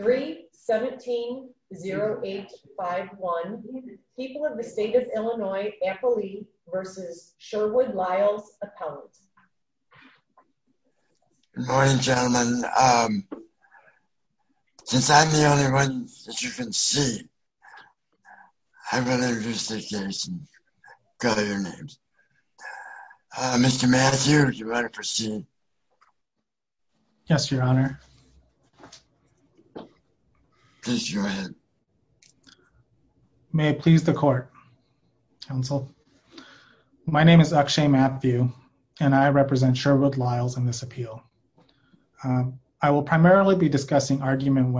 3 17 0 8 5 1 people of the state of Illinois Apolli versus Sherwood Lyles Appellant. Good morning gentlemen um since I'm the only one that you can see I'm going to introduce the case and call your names. Mr. Mathew is your honor proceeding. Yes your honor. Please go ahead. May it please the court counsel my name is Akshay Mathew and I represent Sherwood Lyles in this appeal. I will primarily be discussing argument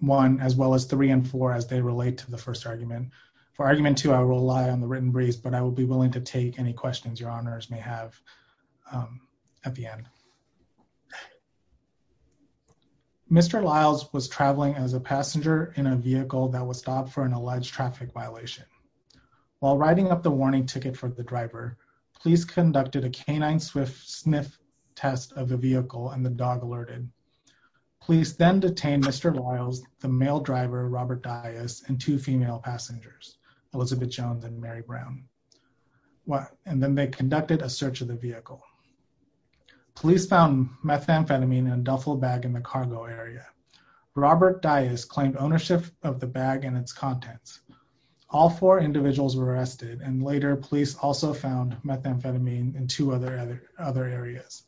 one as well as three and four as they relate to the first argument. For argument two I will rely on the questions your honors may have at the end. Mr. Lyles was traveling as a passenger in a vehicle that was stopped for an alleged traffic violation. While riding up the warning ticket for the driver police conducted a canine swift sniff test of the vehicle and the dog alerted. Police then detained Mr. Lyles, the male driver Robert Dias, and two female passengers Elizabeth Jones and Mary Brown. And then they conducted a search of the vehicle. Police found methamphetamine and duffel bag in the cargo area. Robert Dias claimed ownership of the bag and its contents. All four individuals were arrested and later police also found methamphetamine in two other other areas.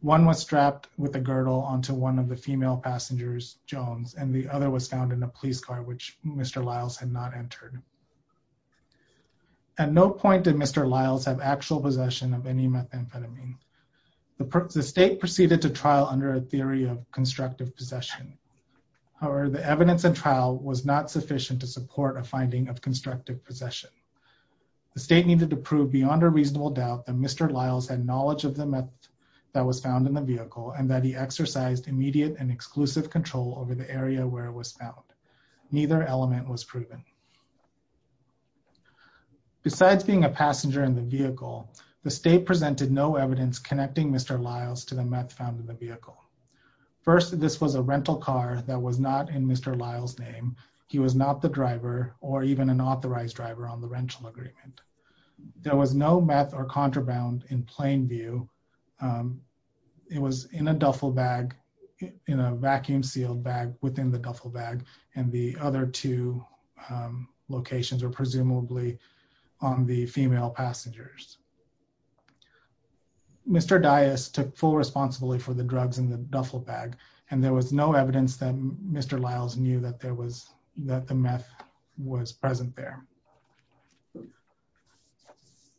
One was strapped with a girdle onto one of the female passengers Jones and the other was found in a police car which Mr. Lyles had not entered. At no point did Mr. Lyles have actual possession of any methamphetamine. The state proceeded to trial under a theory of constructive possession. However the evidence and trial was not sufficient to support a finding of constructive possession. The state needed to prove beyond a reasonable doubt that Mr. Lyles had knowledge of the meth that was found in the vehicle and that he exercised immediate and exclusive control over the area where it was found. Neither element was proven. Besides being a passenger in the vehicle the state presented no evidence connecting Mr. Lyles to the meth found in the vehicle. First this was a rental car that was not in Mr. Lyles name. He was not the driver or even an authorized driver on the rental agreement. There was no meth or contraband in plain view. It was in a duffel bag in a vacuum sealed bag within the duffel bag and the other two locations were presumably on the female passengers. Mr. Dias took full responsibility for the drugs in the duffel bag and there was no evidence that Mr. Lyles knew that there was that the meth was present there.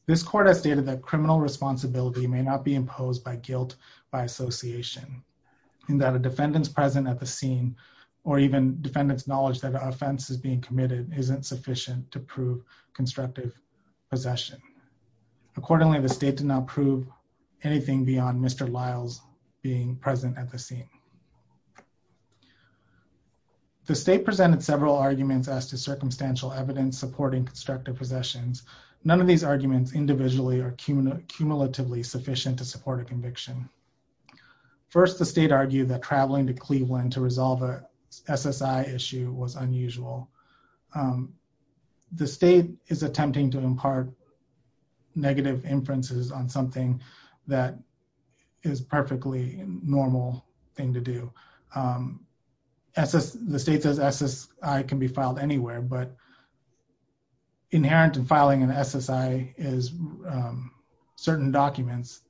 This court has stated that criminal responsibility may not be imposed by or even defendants knowledge that offense is being committed isn't sufficient to prove constructive possession. Accordingly the state did not prove anything beyond Mr. Lyles being present at the scene. The state presented several arguments as to circumstantial evidence supporting constructive possessions. None of these arguments individually are cumulatively sufficient to support a conviction. First the state argued that traveling to Cleveland to resolve a SSI issue was unusual. The state is attempting to impart negative inferences on something that is perfectly normal thing to do. The state says SSI can be filed anywhere but inherent in filing an SSI is certain documents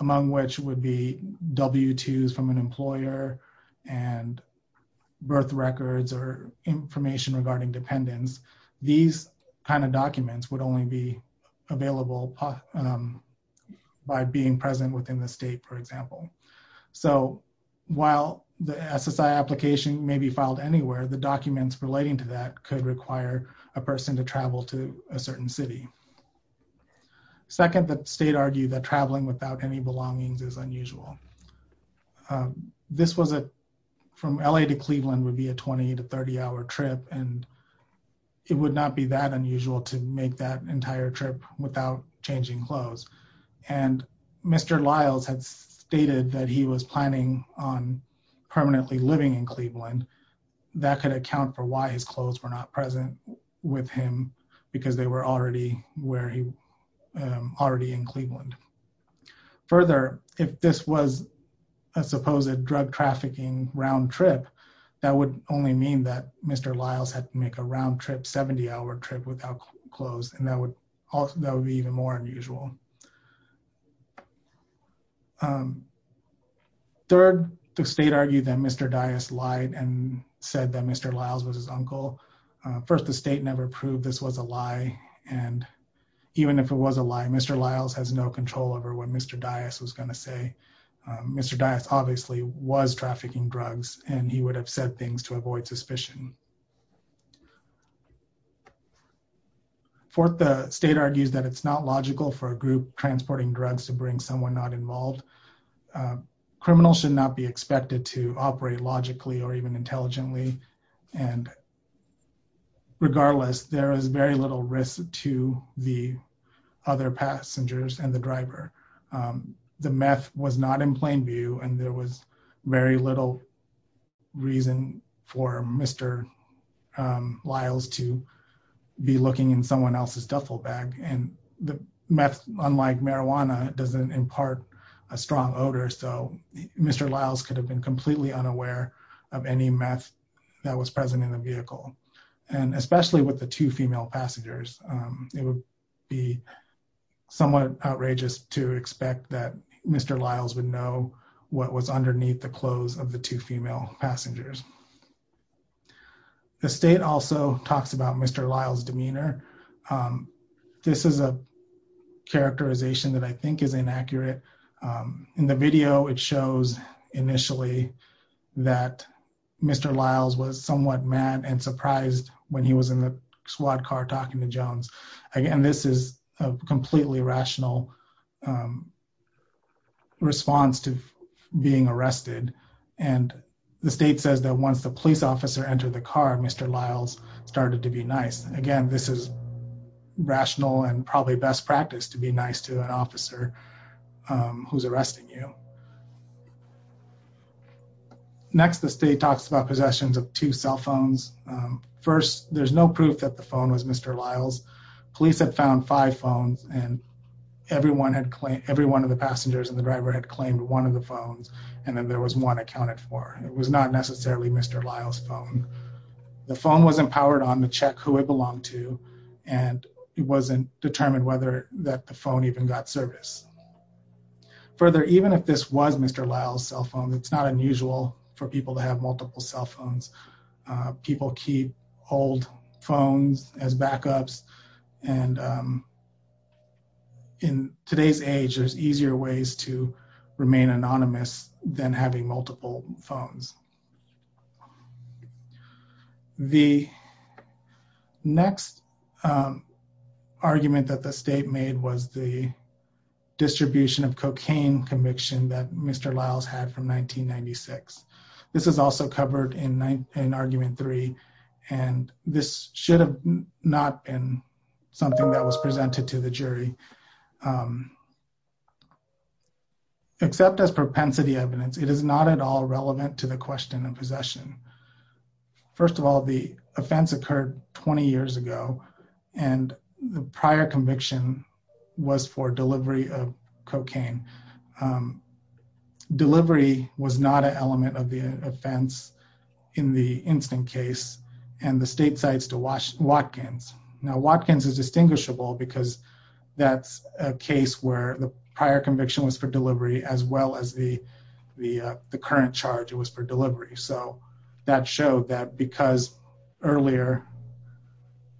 among which would be W-2s from an employer and birth records or information regarding dependents. These kind of documents would only be available by being present within the state for example. So while the SSI application may be filed anywhere the documents relating to that could require a person to travel to a certain city. Second the state argued that traveling without any belongings is unusual. This was a from LA to Cleveland would be a 20 to 30 hour trip and it would not be that unusual to make that entire trip without changing clothes and Mr. Lyles had stated that he was planning on permanently living in Cleveland that could account for why his clothes were not present with him because they were already where he already in Cleveland. Further if this was a supposed drug trafficking round trip that would only mean that Mr. Lyles had to make a round trip 70 hour trip without clothes and that would also that would be even more unusual. Third the state argued that Mr. Dyess lied and said that Mr. Lyles was his uncle. First the state never proved this was a lie and even if it was a lie Mr. Lyles has no control over what Mr. Dyess was going to say. Mr. Dyess obviously was trafficking drugs and he would have said things to avoid suspicion. Fourth the state argues that it's not logical for a group transporting drugs to bring someone not involved. Criminals should not be expected to operate logically or even intelligently and regardless there is very little risk to the other passengers and the driver. The meth was not in plain view and there was very little reason for Mr. Lyles to be looking in someone else's duffel bag and the meth unlike marijuana doesn't impart a strong odor so Mr. Lyles could have been completely unaware of any meth that was present in the vehicle and especially with the two female passengers it would be somewhat outrageous to expect that Mr. Lyles would know what was underneath the clothes of the two female passengers. The state also talks about Mr. Lyles' demeanor. This is a characterization that I think is inaccurate. In the video it shows initially that Mr. Lyles was somewhat mad and surprised when he was in the SWAT car talking to Jones. Again this is a completely rational response to being arrested and the state says that once the police officer entered the car Mr. Lyles started to be nice. Again this is rational and probably best practice to be nice to an officer who's arresting you. Next the state talks about possessions of two cell phones. First there's no proof that the phone was Mr. Lyles. Police had found five phones and every one of the passengers and the driver had claimed one of the phones and then there was one accounted for. It was not necessarily Mr. Lyles' phone. The phone wasn't powered on to check who it belonged to and it wasn't determined whether that the phone even got service. Further even if this was Mr. Lyles' cell phone it's not unusual for people to have multiple cell phones. People keep old phones as backups and in today's age there's easier ways to remain anonymous than having multiple phones. The next argument that the state made was the distribution of cocaine conviction that Mr. Lyles had from 1996. This is also covered in argument three and this should have not been something that was presented to the jury except as propensity evidence it is not at all relevant to the question of possession. First of all the offense occurred 20 years ago and the prior conviction was for delivery of cocaine. Delivery was not an element of the offense in the instant case and the state cites to Watkins. Now Watkins is distinguishable because that's a case where the prior conviction was for delivery as well as the current charge it was for delivery so that showed that because earlier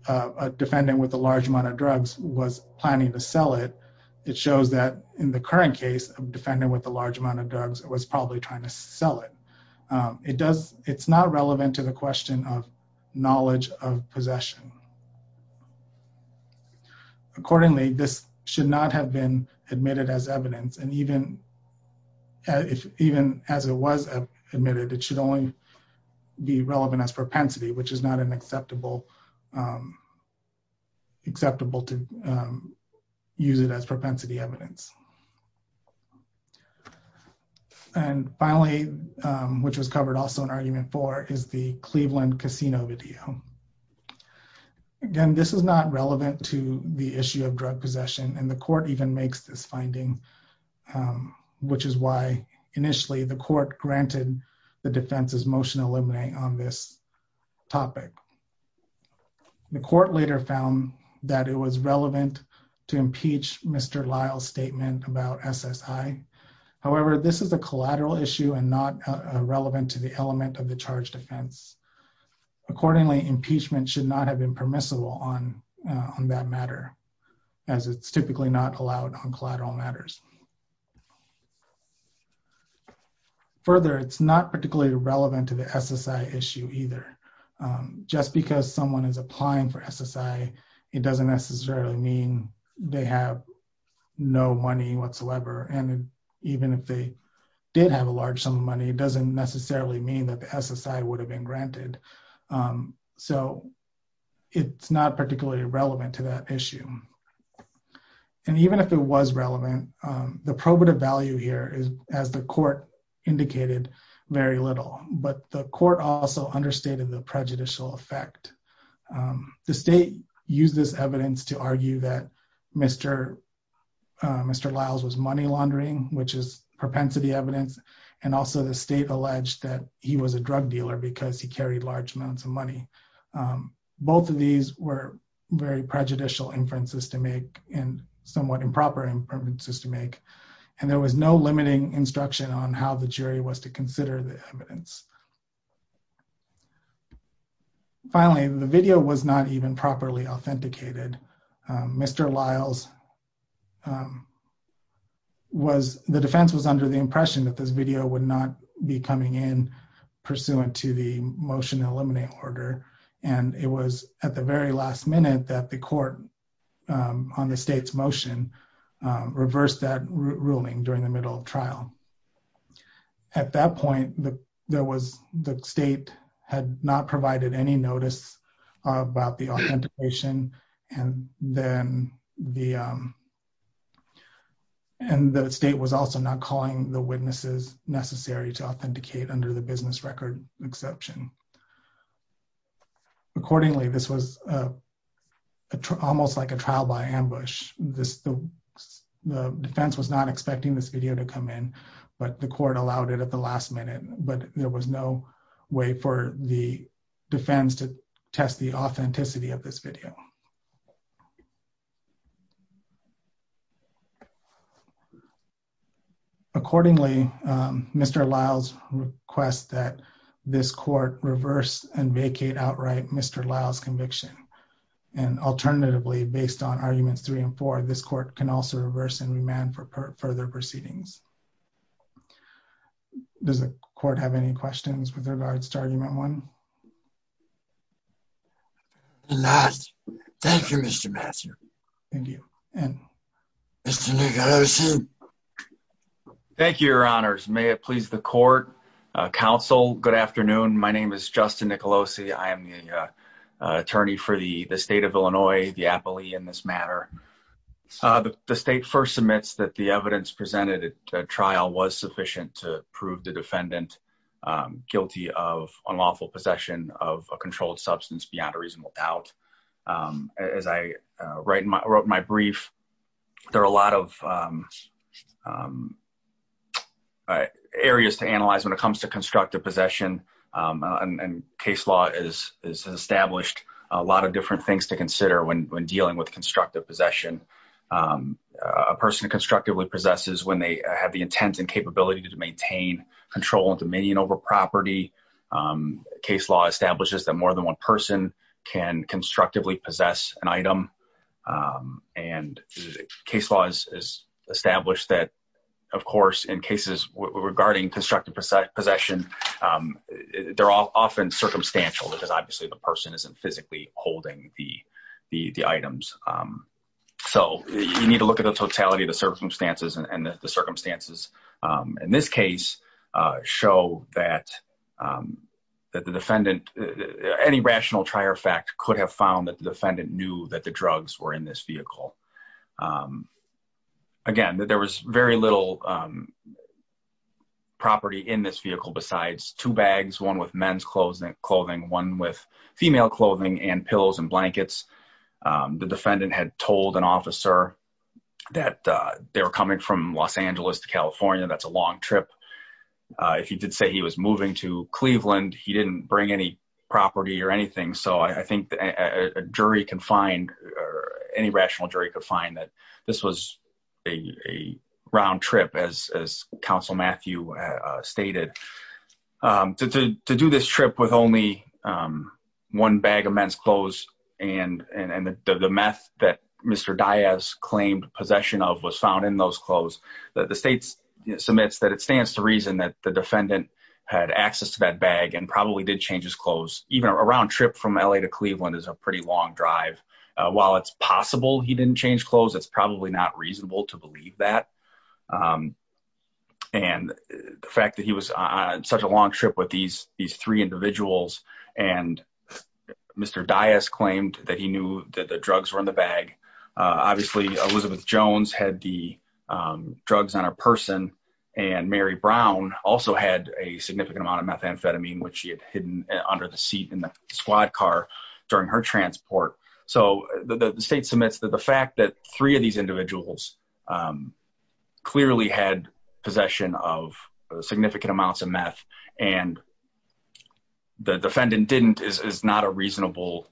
a defendant with a large amount of drugs was planning to sell it it shows that in the current case a defendant with a large amount of drugs was probably trying to sell it. It's not relevant to the question. Accordingly this should not have been admitted as evidence and even if even as it was admitted it should only be relevant as propensity which is not an acceptable acceptable to use it as propensity evidence. And finally which was covered also in argument four is the this is not relevant to the issue of drug possession and the court even makes this finding which is why initially the court granted the defense's motion eliminating on this topic. The court later found that it was relevant to impeach Mr. Lyle's statement about SSI. However this is a collateral issue and not relevant to the element of the charge defense. Accordingly impeachment should not have been permissible on that matter as it's typically not allowed on collateral matters. Further it's not particularly relevant to the SSI issue either. Just because someone is applying for SSI it doesn't necessarily mean they have no money whatsoever and even if they did have a large sum of money it doesn't necessarily mean that the SSI would have been granted. So it's not particularly relevant to that issue and even if it was relevant the probative value here is as the court indicated very little but the court also understated the prejudicial effect. The state used this evidence to argue that Mr. Lyle's was money laundering which is propensity evidence and also the state alleged that he was a drug dealer because he carried large amounts of money. Both of these were very prejudicial inferences to make and somewhat improper inferences to make and there was no limiting instruction on how the jury was to consider the evidence. Finally the video was not even properly authenticated. Mr. Lyle's was the defense was under the impression that this video would not be coming in pursuant to the motion eliminate order and it was at the very last minute that the court on the state's motion reversed that ruling during the middle of trial. At that point the state had not provided any notice about the authentication and then the state was also not necessary to authenticate under the business record exception. Accordingly this was almost like a trial by ambush. The defense was not expecting this video to come in but the court allowed it at the last minute but there was no way for the defense to test the authenticity of this video. Accordingly Mr. Lyle's request that this court reverse and vacate outright Mr. Lyle's conviction and alternatively based on arguments three and four this court can also reverse and remand for further proceedings. Does the court have any questions with regards to argument one? No. And last, thank you Mr. Master. Thank you. And Mr. Nicolosi. Thank you your honors. May it please the court, counsel, good afternoon. My name is Justin Nicolosi. I am the attorney for the the state of Illinois, the appellee in this matter. The state first submits that the evidence presented at trial was sufficient to unlawful possession of a controlled substance beyond a reasonable doubt. As I wrote in my brief there are a lot of areas to analyze when it comes to constructive possession and case law has established a lot of different things to consider when dealing with constructive possession. A person constructively possesses when they have the intent and capability to maintain control and dominion over property. Case law establishes that more than one person can constructively possess an item and case law is established that of course in cases regarding constructive possession they're all often circumstantial because obviously the person isn't physically holding the items. So you need to look at the totality of circumstances and the circumstances in this case show that that the defendant any rational trier fact could have found that the defendant knew that the drugs were in this vehicle. Again there was very little property in this vehicle besides two bags one with men's clothing one with female clothing and pillows and blankets. The defendant had told an officer that they were coming from Los Angeles to California that's a long trip. If he did say he was moving to Cleveland he didn't bring any property or anything so I think a jury can find or any rational jury could find that this was a round trip as as counsel Matthew stated. To do this trip with only one bag of men's clothes and and the meth that Mr. Diaz claimed possession of was found in those clothes the state submits that it stands to reason that the defendant had access to that bag and probably did change his clothes even a round trip from LA to Cleveland is a pretty long drive. While it's possible he didn't change clothes it's probably not reasonable to believe that and the fact that he was on such a long trip with these these three individuals and Mr. Diaz claimed that he knew that the drugs were in the bag obviously Elizabeth Jones had the drugs on her person and Mary Brown also had a significant amount of methamphetamine which she had hidden under the seat in the squad car during her transport. So the state submits that the fact that three of these individuals clearly had possession of significant amounts of meth and the defendant didn't is not a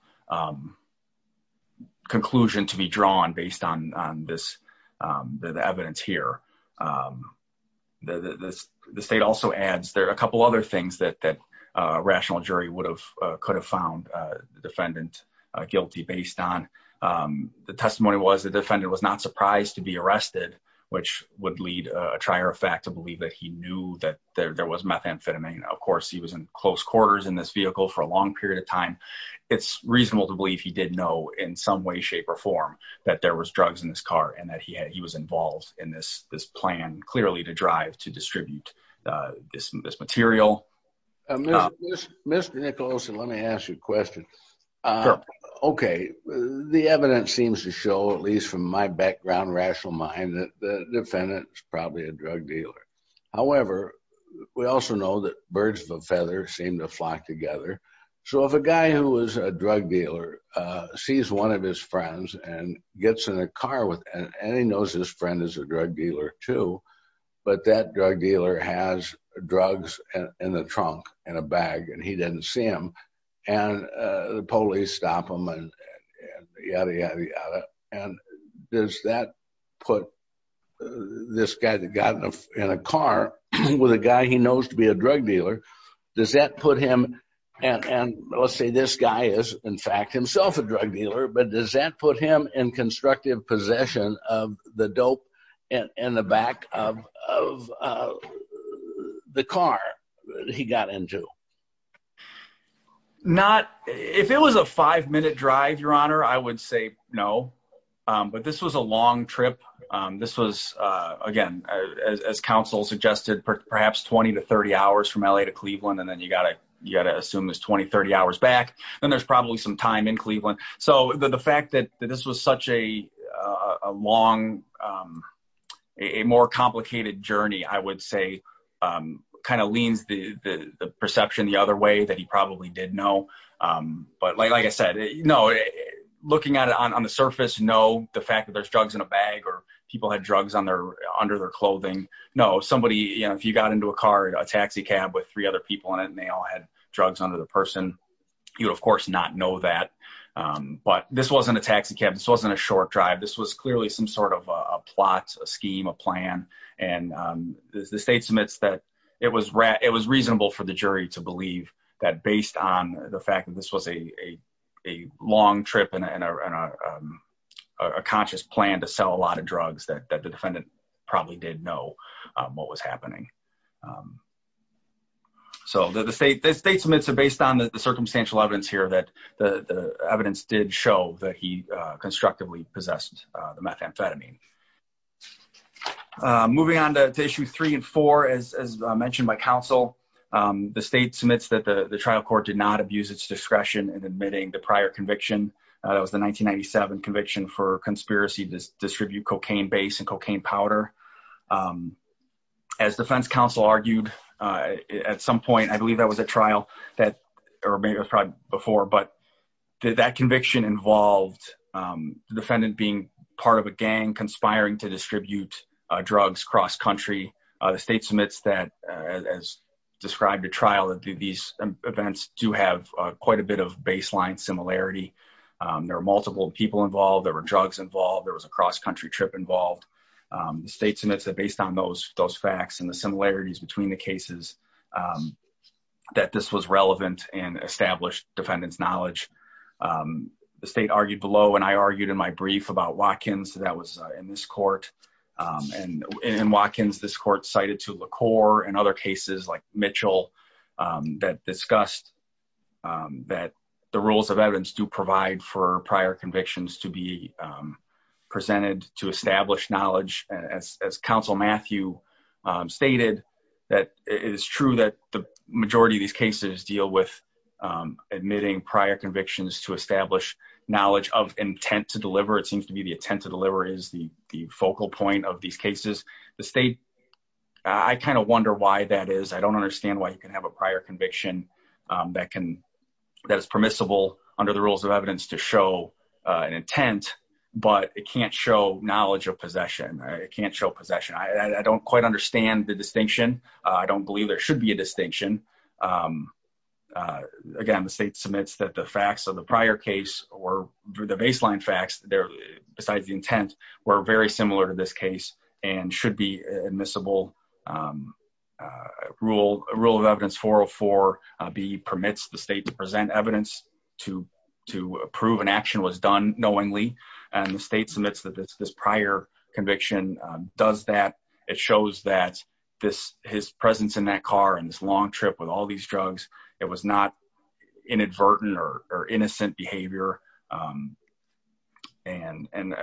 conclusion to be drawn based on on this the evidence here. The state also adds there are a couple other things that that a rational jury would have could have found the defendant guilty based on the testimony was the defendant was not surprised to be arrested which would lead a trier of fact to believe that he knew that there was methamphetamine. Of course he was in close quarters in this vehicle for a long period of time. It's reasonable to believe he did know in some way shape or form that there was drugs in this car and that he had he was involved in this this plan clearly to drive to distribute this this material. Mr. Nicholson let me ask you a question. Okay the evidence seems to show at least from my background rational mind that the defendant is probably a drug dealer. However we also know that birds of a feather seem to flock together so if a guy who was a drug dealer sees one of his friends and gets in a car with and he knows his friend is a drug dealer too but that drug dealer has drugs and in the trunk in a bag and he didn't see him and the police stop him and yada yada yada and does that put this guy that got in a car with a guy he knows to be a drug dealer does that put him and and let's say this guy is in fact himself a drug dealer but does that put him in constructive possession of the dope in the back of of the car he got into? Not if it was a five minute drive your honor I would say no but this was a long trip. This was again as counsel suggested perhaps 20 to 30 hours from LA to Cleveland and then you gotta assume this 20-30 hours back then there's probably some time in Cleveland so the fact that this was such a long a more complicated journey I would say kind of leans the the perception the other way that he probably did know but like I said no looking at it on the surface no the fact that there's drugs in a bag or people had drugs on their under their clothing no somebody you know if you got into a car a taxi cab with three other people in it and they all had drugs under the person you'd of course not know that but this wasn't a taxi cab this wasn't a short drive this was clearly some sort of a plot a scheme a plan and the state submits that it was it was reasonable for the jury to believe that based on the fact that this was a a long trip and a conscious plan to sell a lot of drugs that the defendant probably did know what was happening so the state the state submits are based on the circumstantial evidence here that the the evidence did show that he constructively possessed the methamphetamine moving on to issue three and four as as mentioned by counsel the state submits that the the trial court did not abuse its discretion in admitting the prior conviction that was the 1997 conviction for conspiracy to distribute cocaine base and cocaine powder as defense counsel argued at some point i believe that was a trial that or maybe it was probably before but that conviction involved the defendant being part of a gang conspiring to distribute drugs cross-country the state submits that as described to trial that these events do have quite a bit of baseline similarity there are multiple people involved there were drugs involved there was a those facts and the similarities between the cases that this was relevant and established defendant's knowledge the state argued below and i argued in my brief about Watkins that was in this court and in Watkins this court cited to LaCour and other cases like Mitchell that discussed that the rules of evidence do provide for prior convictions to be stated that it is true that the majority of these cases deal with admitting prior convictions to establish knowledge of intent to deliver it seems to be the intent to deliver is the the focal point of these cases the state i kind of wonder why that is i don't understand why you can have a prior conviction that can that is permissible under the rules of evidence to show an intent but it can't show knowledge of possession it can't show possession i don't quite understand the distinction i don't believe there should be a distinction again the state submits that the facts of the prior case or the baseline facts there besides the intent were very similar to this case and should be admissible rule of evidence 404b permits the state to present evidence to to approve an action was done knowingly and the state submits that this prior conviction does that it shows that this his presence in that car and this long trip with all these drugs it was not inadvertent or innocent behavior and and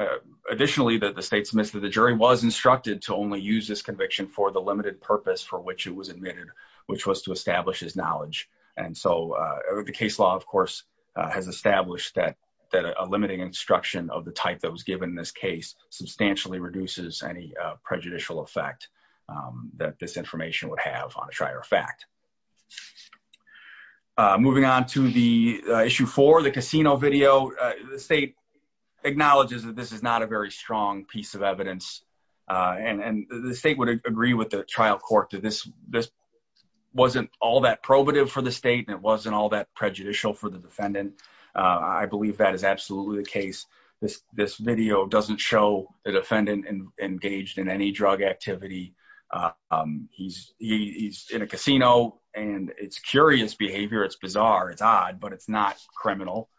additionally that the state submits to the jury was instructed to only use this conviction for the limited purpose for which it was admitted which was to establish his knowledge and so the case law of course has established that that a limiting instruction of the type that was given in this case substantially reduces any prejudicial effect that this information would have on a prior fact moving on to the issue for the casino video the state acknowledges that this is not a very strong piece of evidence and and the state would agree with the trial court that this this wasn't all that probative for the state and it wasn't all that prejudicial for the defendant i believe that is absolutely the case this this video doesn't show the defendant engaged in any drug activity he's he's in a casino and it's curious behavior it's bizarre it's odd but it's not criminal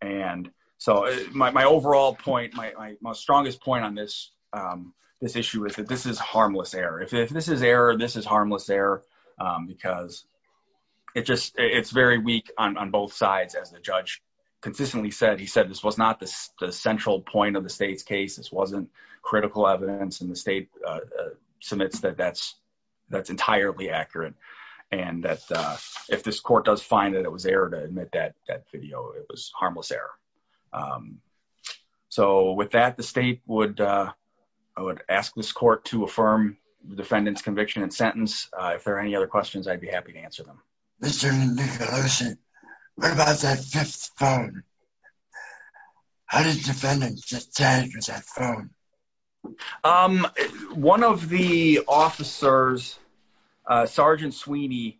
and so my overall point my my strongest point on this this issue is that this is harmless error if this is error this is harmless error because it just it's very weak on both sides as the judge consistently said he said this was not the central point of the state's case this wasn't critical evidence and the state submits that that's that's entirely accurate and that if this court does find that it was error to admit that that video it was harmless error so with that the state would i would ask this court to affirm the defendant's conviction and sentence if there are any other questions i'd be how did the defendant just tag with that phone um one of the officers uh sergeant sweeney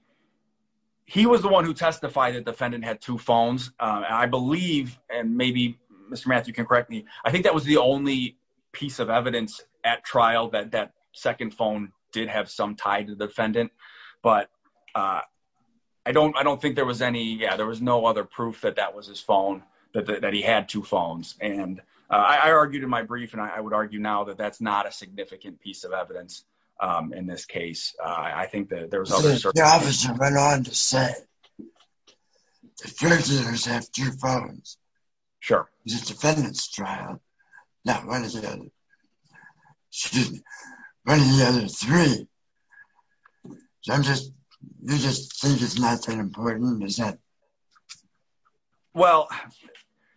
he was the one who testified that defendant had two phones i believe and maybe mr matthew can correct me i think that was the only piece of evidence at trial that that second phone did have some tie to the defendant but uh i don't i don't think there was any yeah there was no other proof that that was his phone that he had two phones and i argued in my brief and i would argue now that that's not a significant piece of evidence um in this case uh i think that there was obviously the officer went on to say the first years have two phones sure it's a defendant's trial now what is it excuse me one of the other three so i'm just you just think it's not that important is that well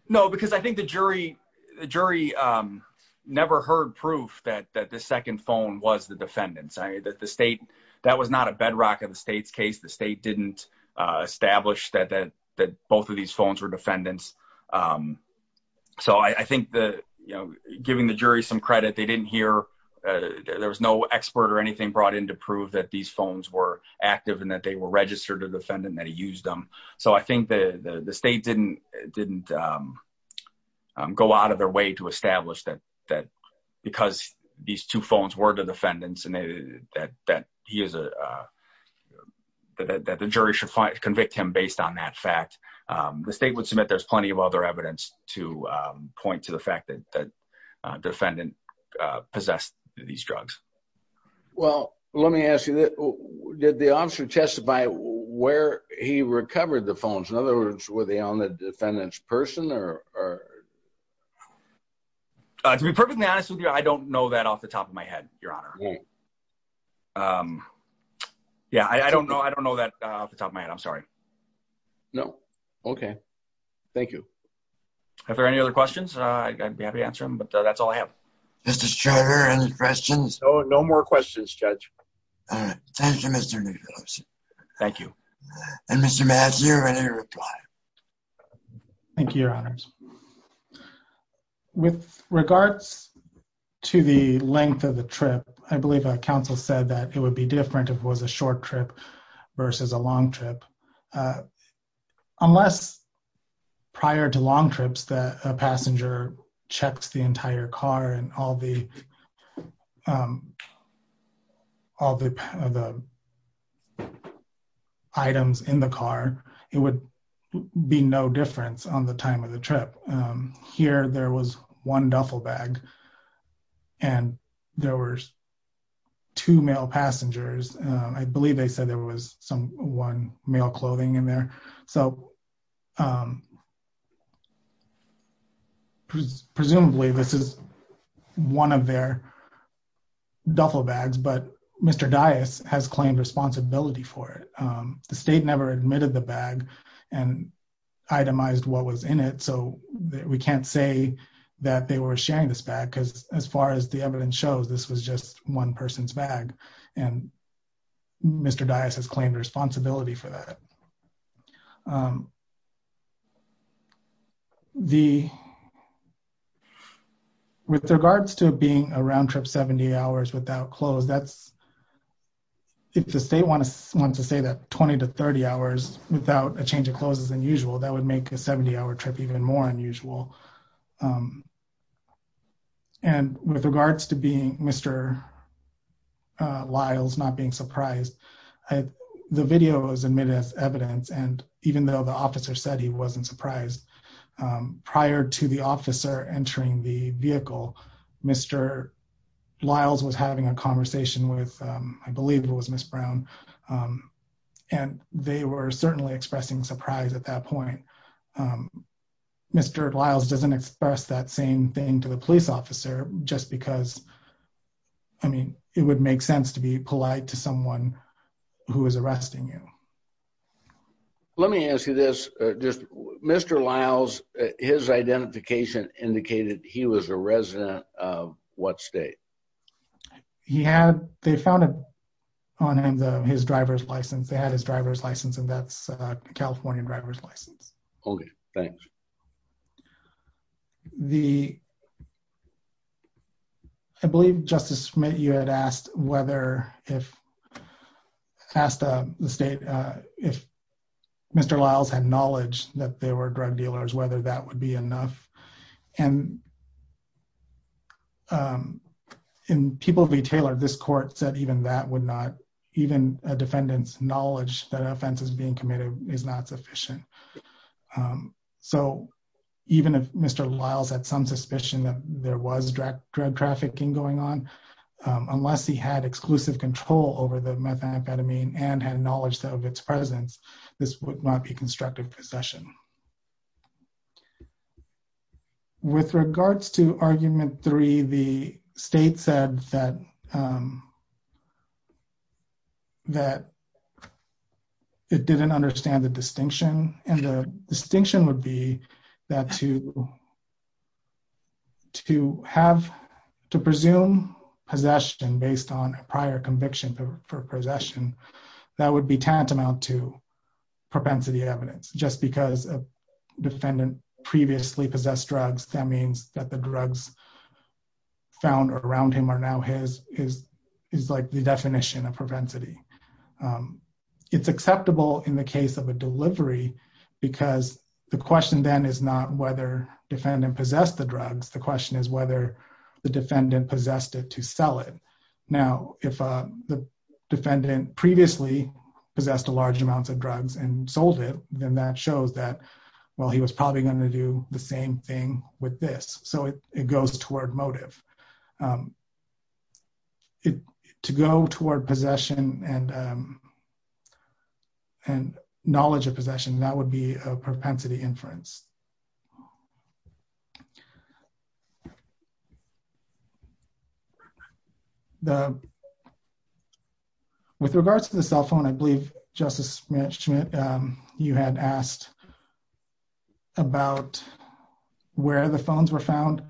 no because i think the jury the jury um never heard proof that that the second phone was the defendant's i that the state that was not a bedrock of the state's case the state didn't uh establish that that that both of these phones were defendants um so i i think the you know giving the jury some credit they didn't hear uh there was no expert or anything brought in to prove that these phones were active and that they were registered a defendant that he used them so i think the the state didn't didn't um go out of their way to establish that that because these two phones were the defendants and that that he is a uh that that the jury should find convict him based on that fact um the state would submit there's plenty of other evidence to um point to the fact that that uh possessed these drugs well let me ask you that did the officer testify where he recovered the phones in other words were they on the defendant's person or or uh to be perfectly honest with you i don't know that off the top of my head your honor um yeah i i don't know i don't know that off the top of my head i'm sorry no okay thank you if there are any other questions uh i'd be happy to answer them but that's all i have mr striver any questions oh no more questions judge all right thank you mr thank you and mr mass you're ready to reply thank you your honors with regards to the length of the trip i believe a council said that it would be different if it was a short trip versus a long trip uh unless prior to long trips that a passenger checks the entire car and all the all the the items in the car it would be no difference on the time of the trip um here there was one duffel bag and there were two male passengers i believe they said there was some one male clothing in there so um presumably this is one of their duffel bags but mr dais has claimed responsibility for it um the state never admitted the bag and itemized what was in it so we can't say that they were sharing this bag because as far as the evidence shows this was just one person's bag and mr dais has claimed responsibility for that the with regards to being a round trip 70 hours without clothes that's if the state wants to say that 20 to 30 hours without a change of clothes is unusual that would make a 70 hour trip even more unusual um and with regards to being mr lyles not being surprised the video was admitted as evidence and even though the officer said he wasn't surprised prior to the officer entering the vehicle mr lyles was having a conversation with i believe it was miss brown and they were certainly expressing surprise at that point mr lyles doesn't express that same thing to the police officer just because i mean it would make sense to be polite to someone who is arresting you let me ask you this just mr lyles his identification indicated he was a resident of what state he had they found on him the his driver's license they had his driver's license and that's a california driver's license okay thanks the i believe justice smith you had asked whether if asked the state uh if mr lyles had knowledge that they were drug dealers whether that would be enough and um in people v taylor this court said even that would not even a defendant's knowledge that offense is being committed is not sufficient so even if mr lyles had some suspicion that there was drug trafficking going on unless he had exclusive control over the methamphetamine and had knowledge of its presence this would not be constructive possession with regards to argument three the state said that um that it didn't understand the distinction and the distinction would be that to to have to presume possession based on a prior conviction for possession that would be tantamount to propensity evidence just because a defendant previously possessed drugs that means that the drugs found around him are now his is is like the definition of propensity um it's acceptable in the case of a delivery because the question then is not whether defendant possessed the drugs the question is whether the defendant possessed it to sell it now if uh the defendant previously possessed a large amounts of drugs and sold it then that shows that well he was probably going to do the same thing with this so it goes toward motive it to go toward possession and um and knowledge of possession that would be a propensity inference the with regards to the cell phone i believe justice schmidt um you had asked about where the phones were found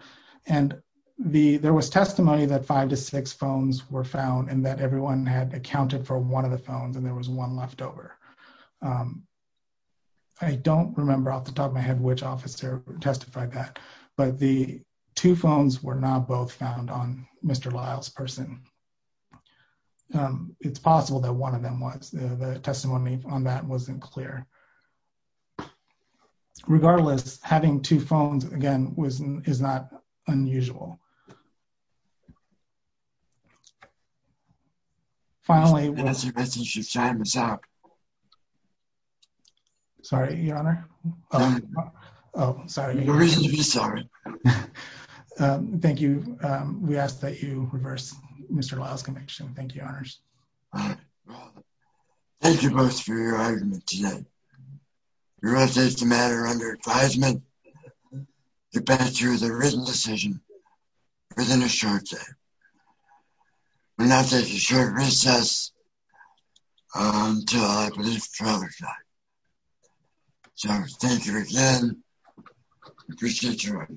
and the there was testimony that five to six phones were found and that everyone had accounted for one of the phones and there was one left over i don't remember off the top of my head which officer testified that but the two phones were not both found on mr lyle's person um it's possible that one of them was the testimony on that wasn't clear regardless having two phones again was is not unusual finally as a message to sign this up sorry your honor um oh i'm sorry you're really sorry um thank you um we ask that you reverse mr lyle's conviction thank you honors thank you both for your argument today your updates the matter under advisement depending through the written decision within a short day we're not taking short recess until i believe father's night so thank you again appreciate your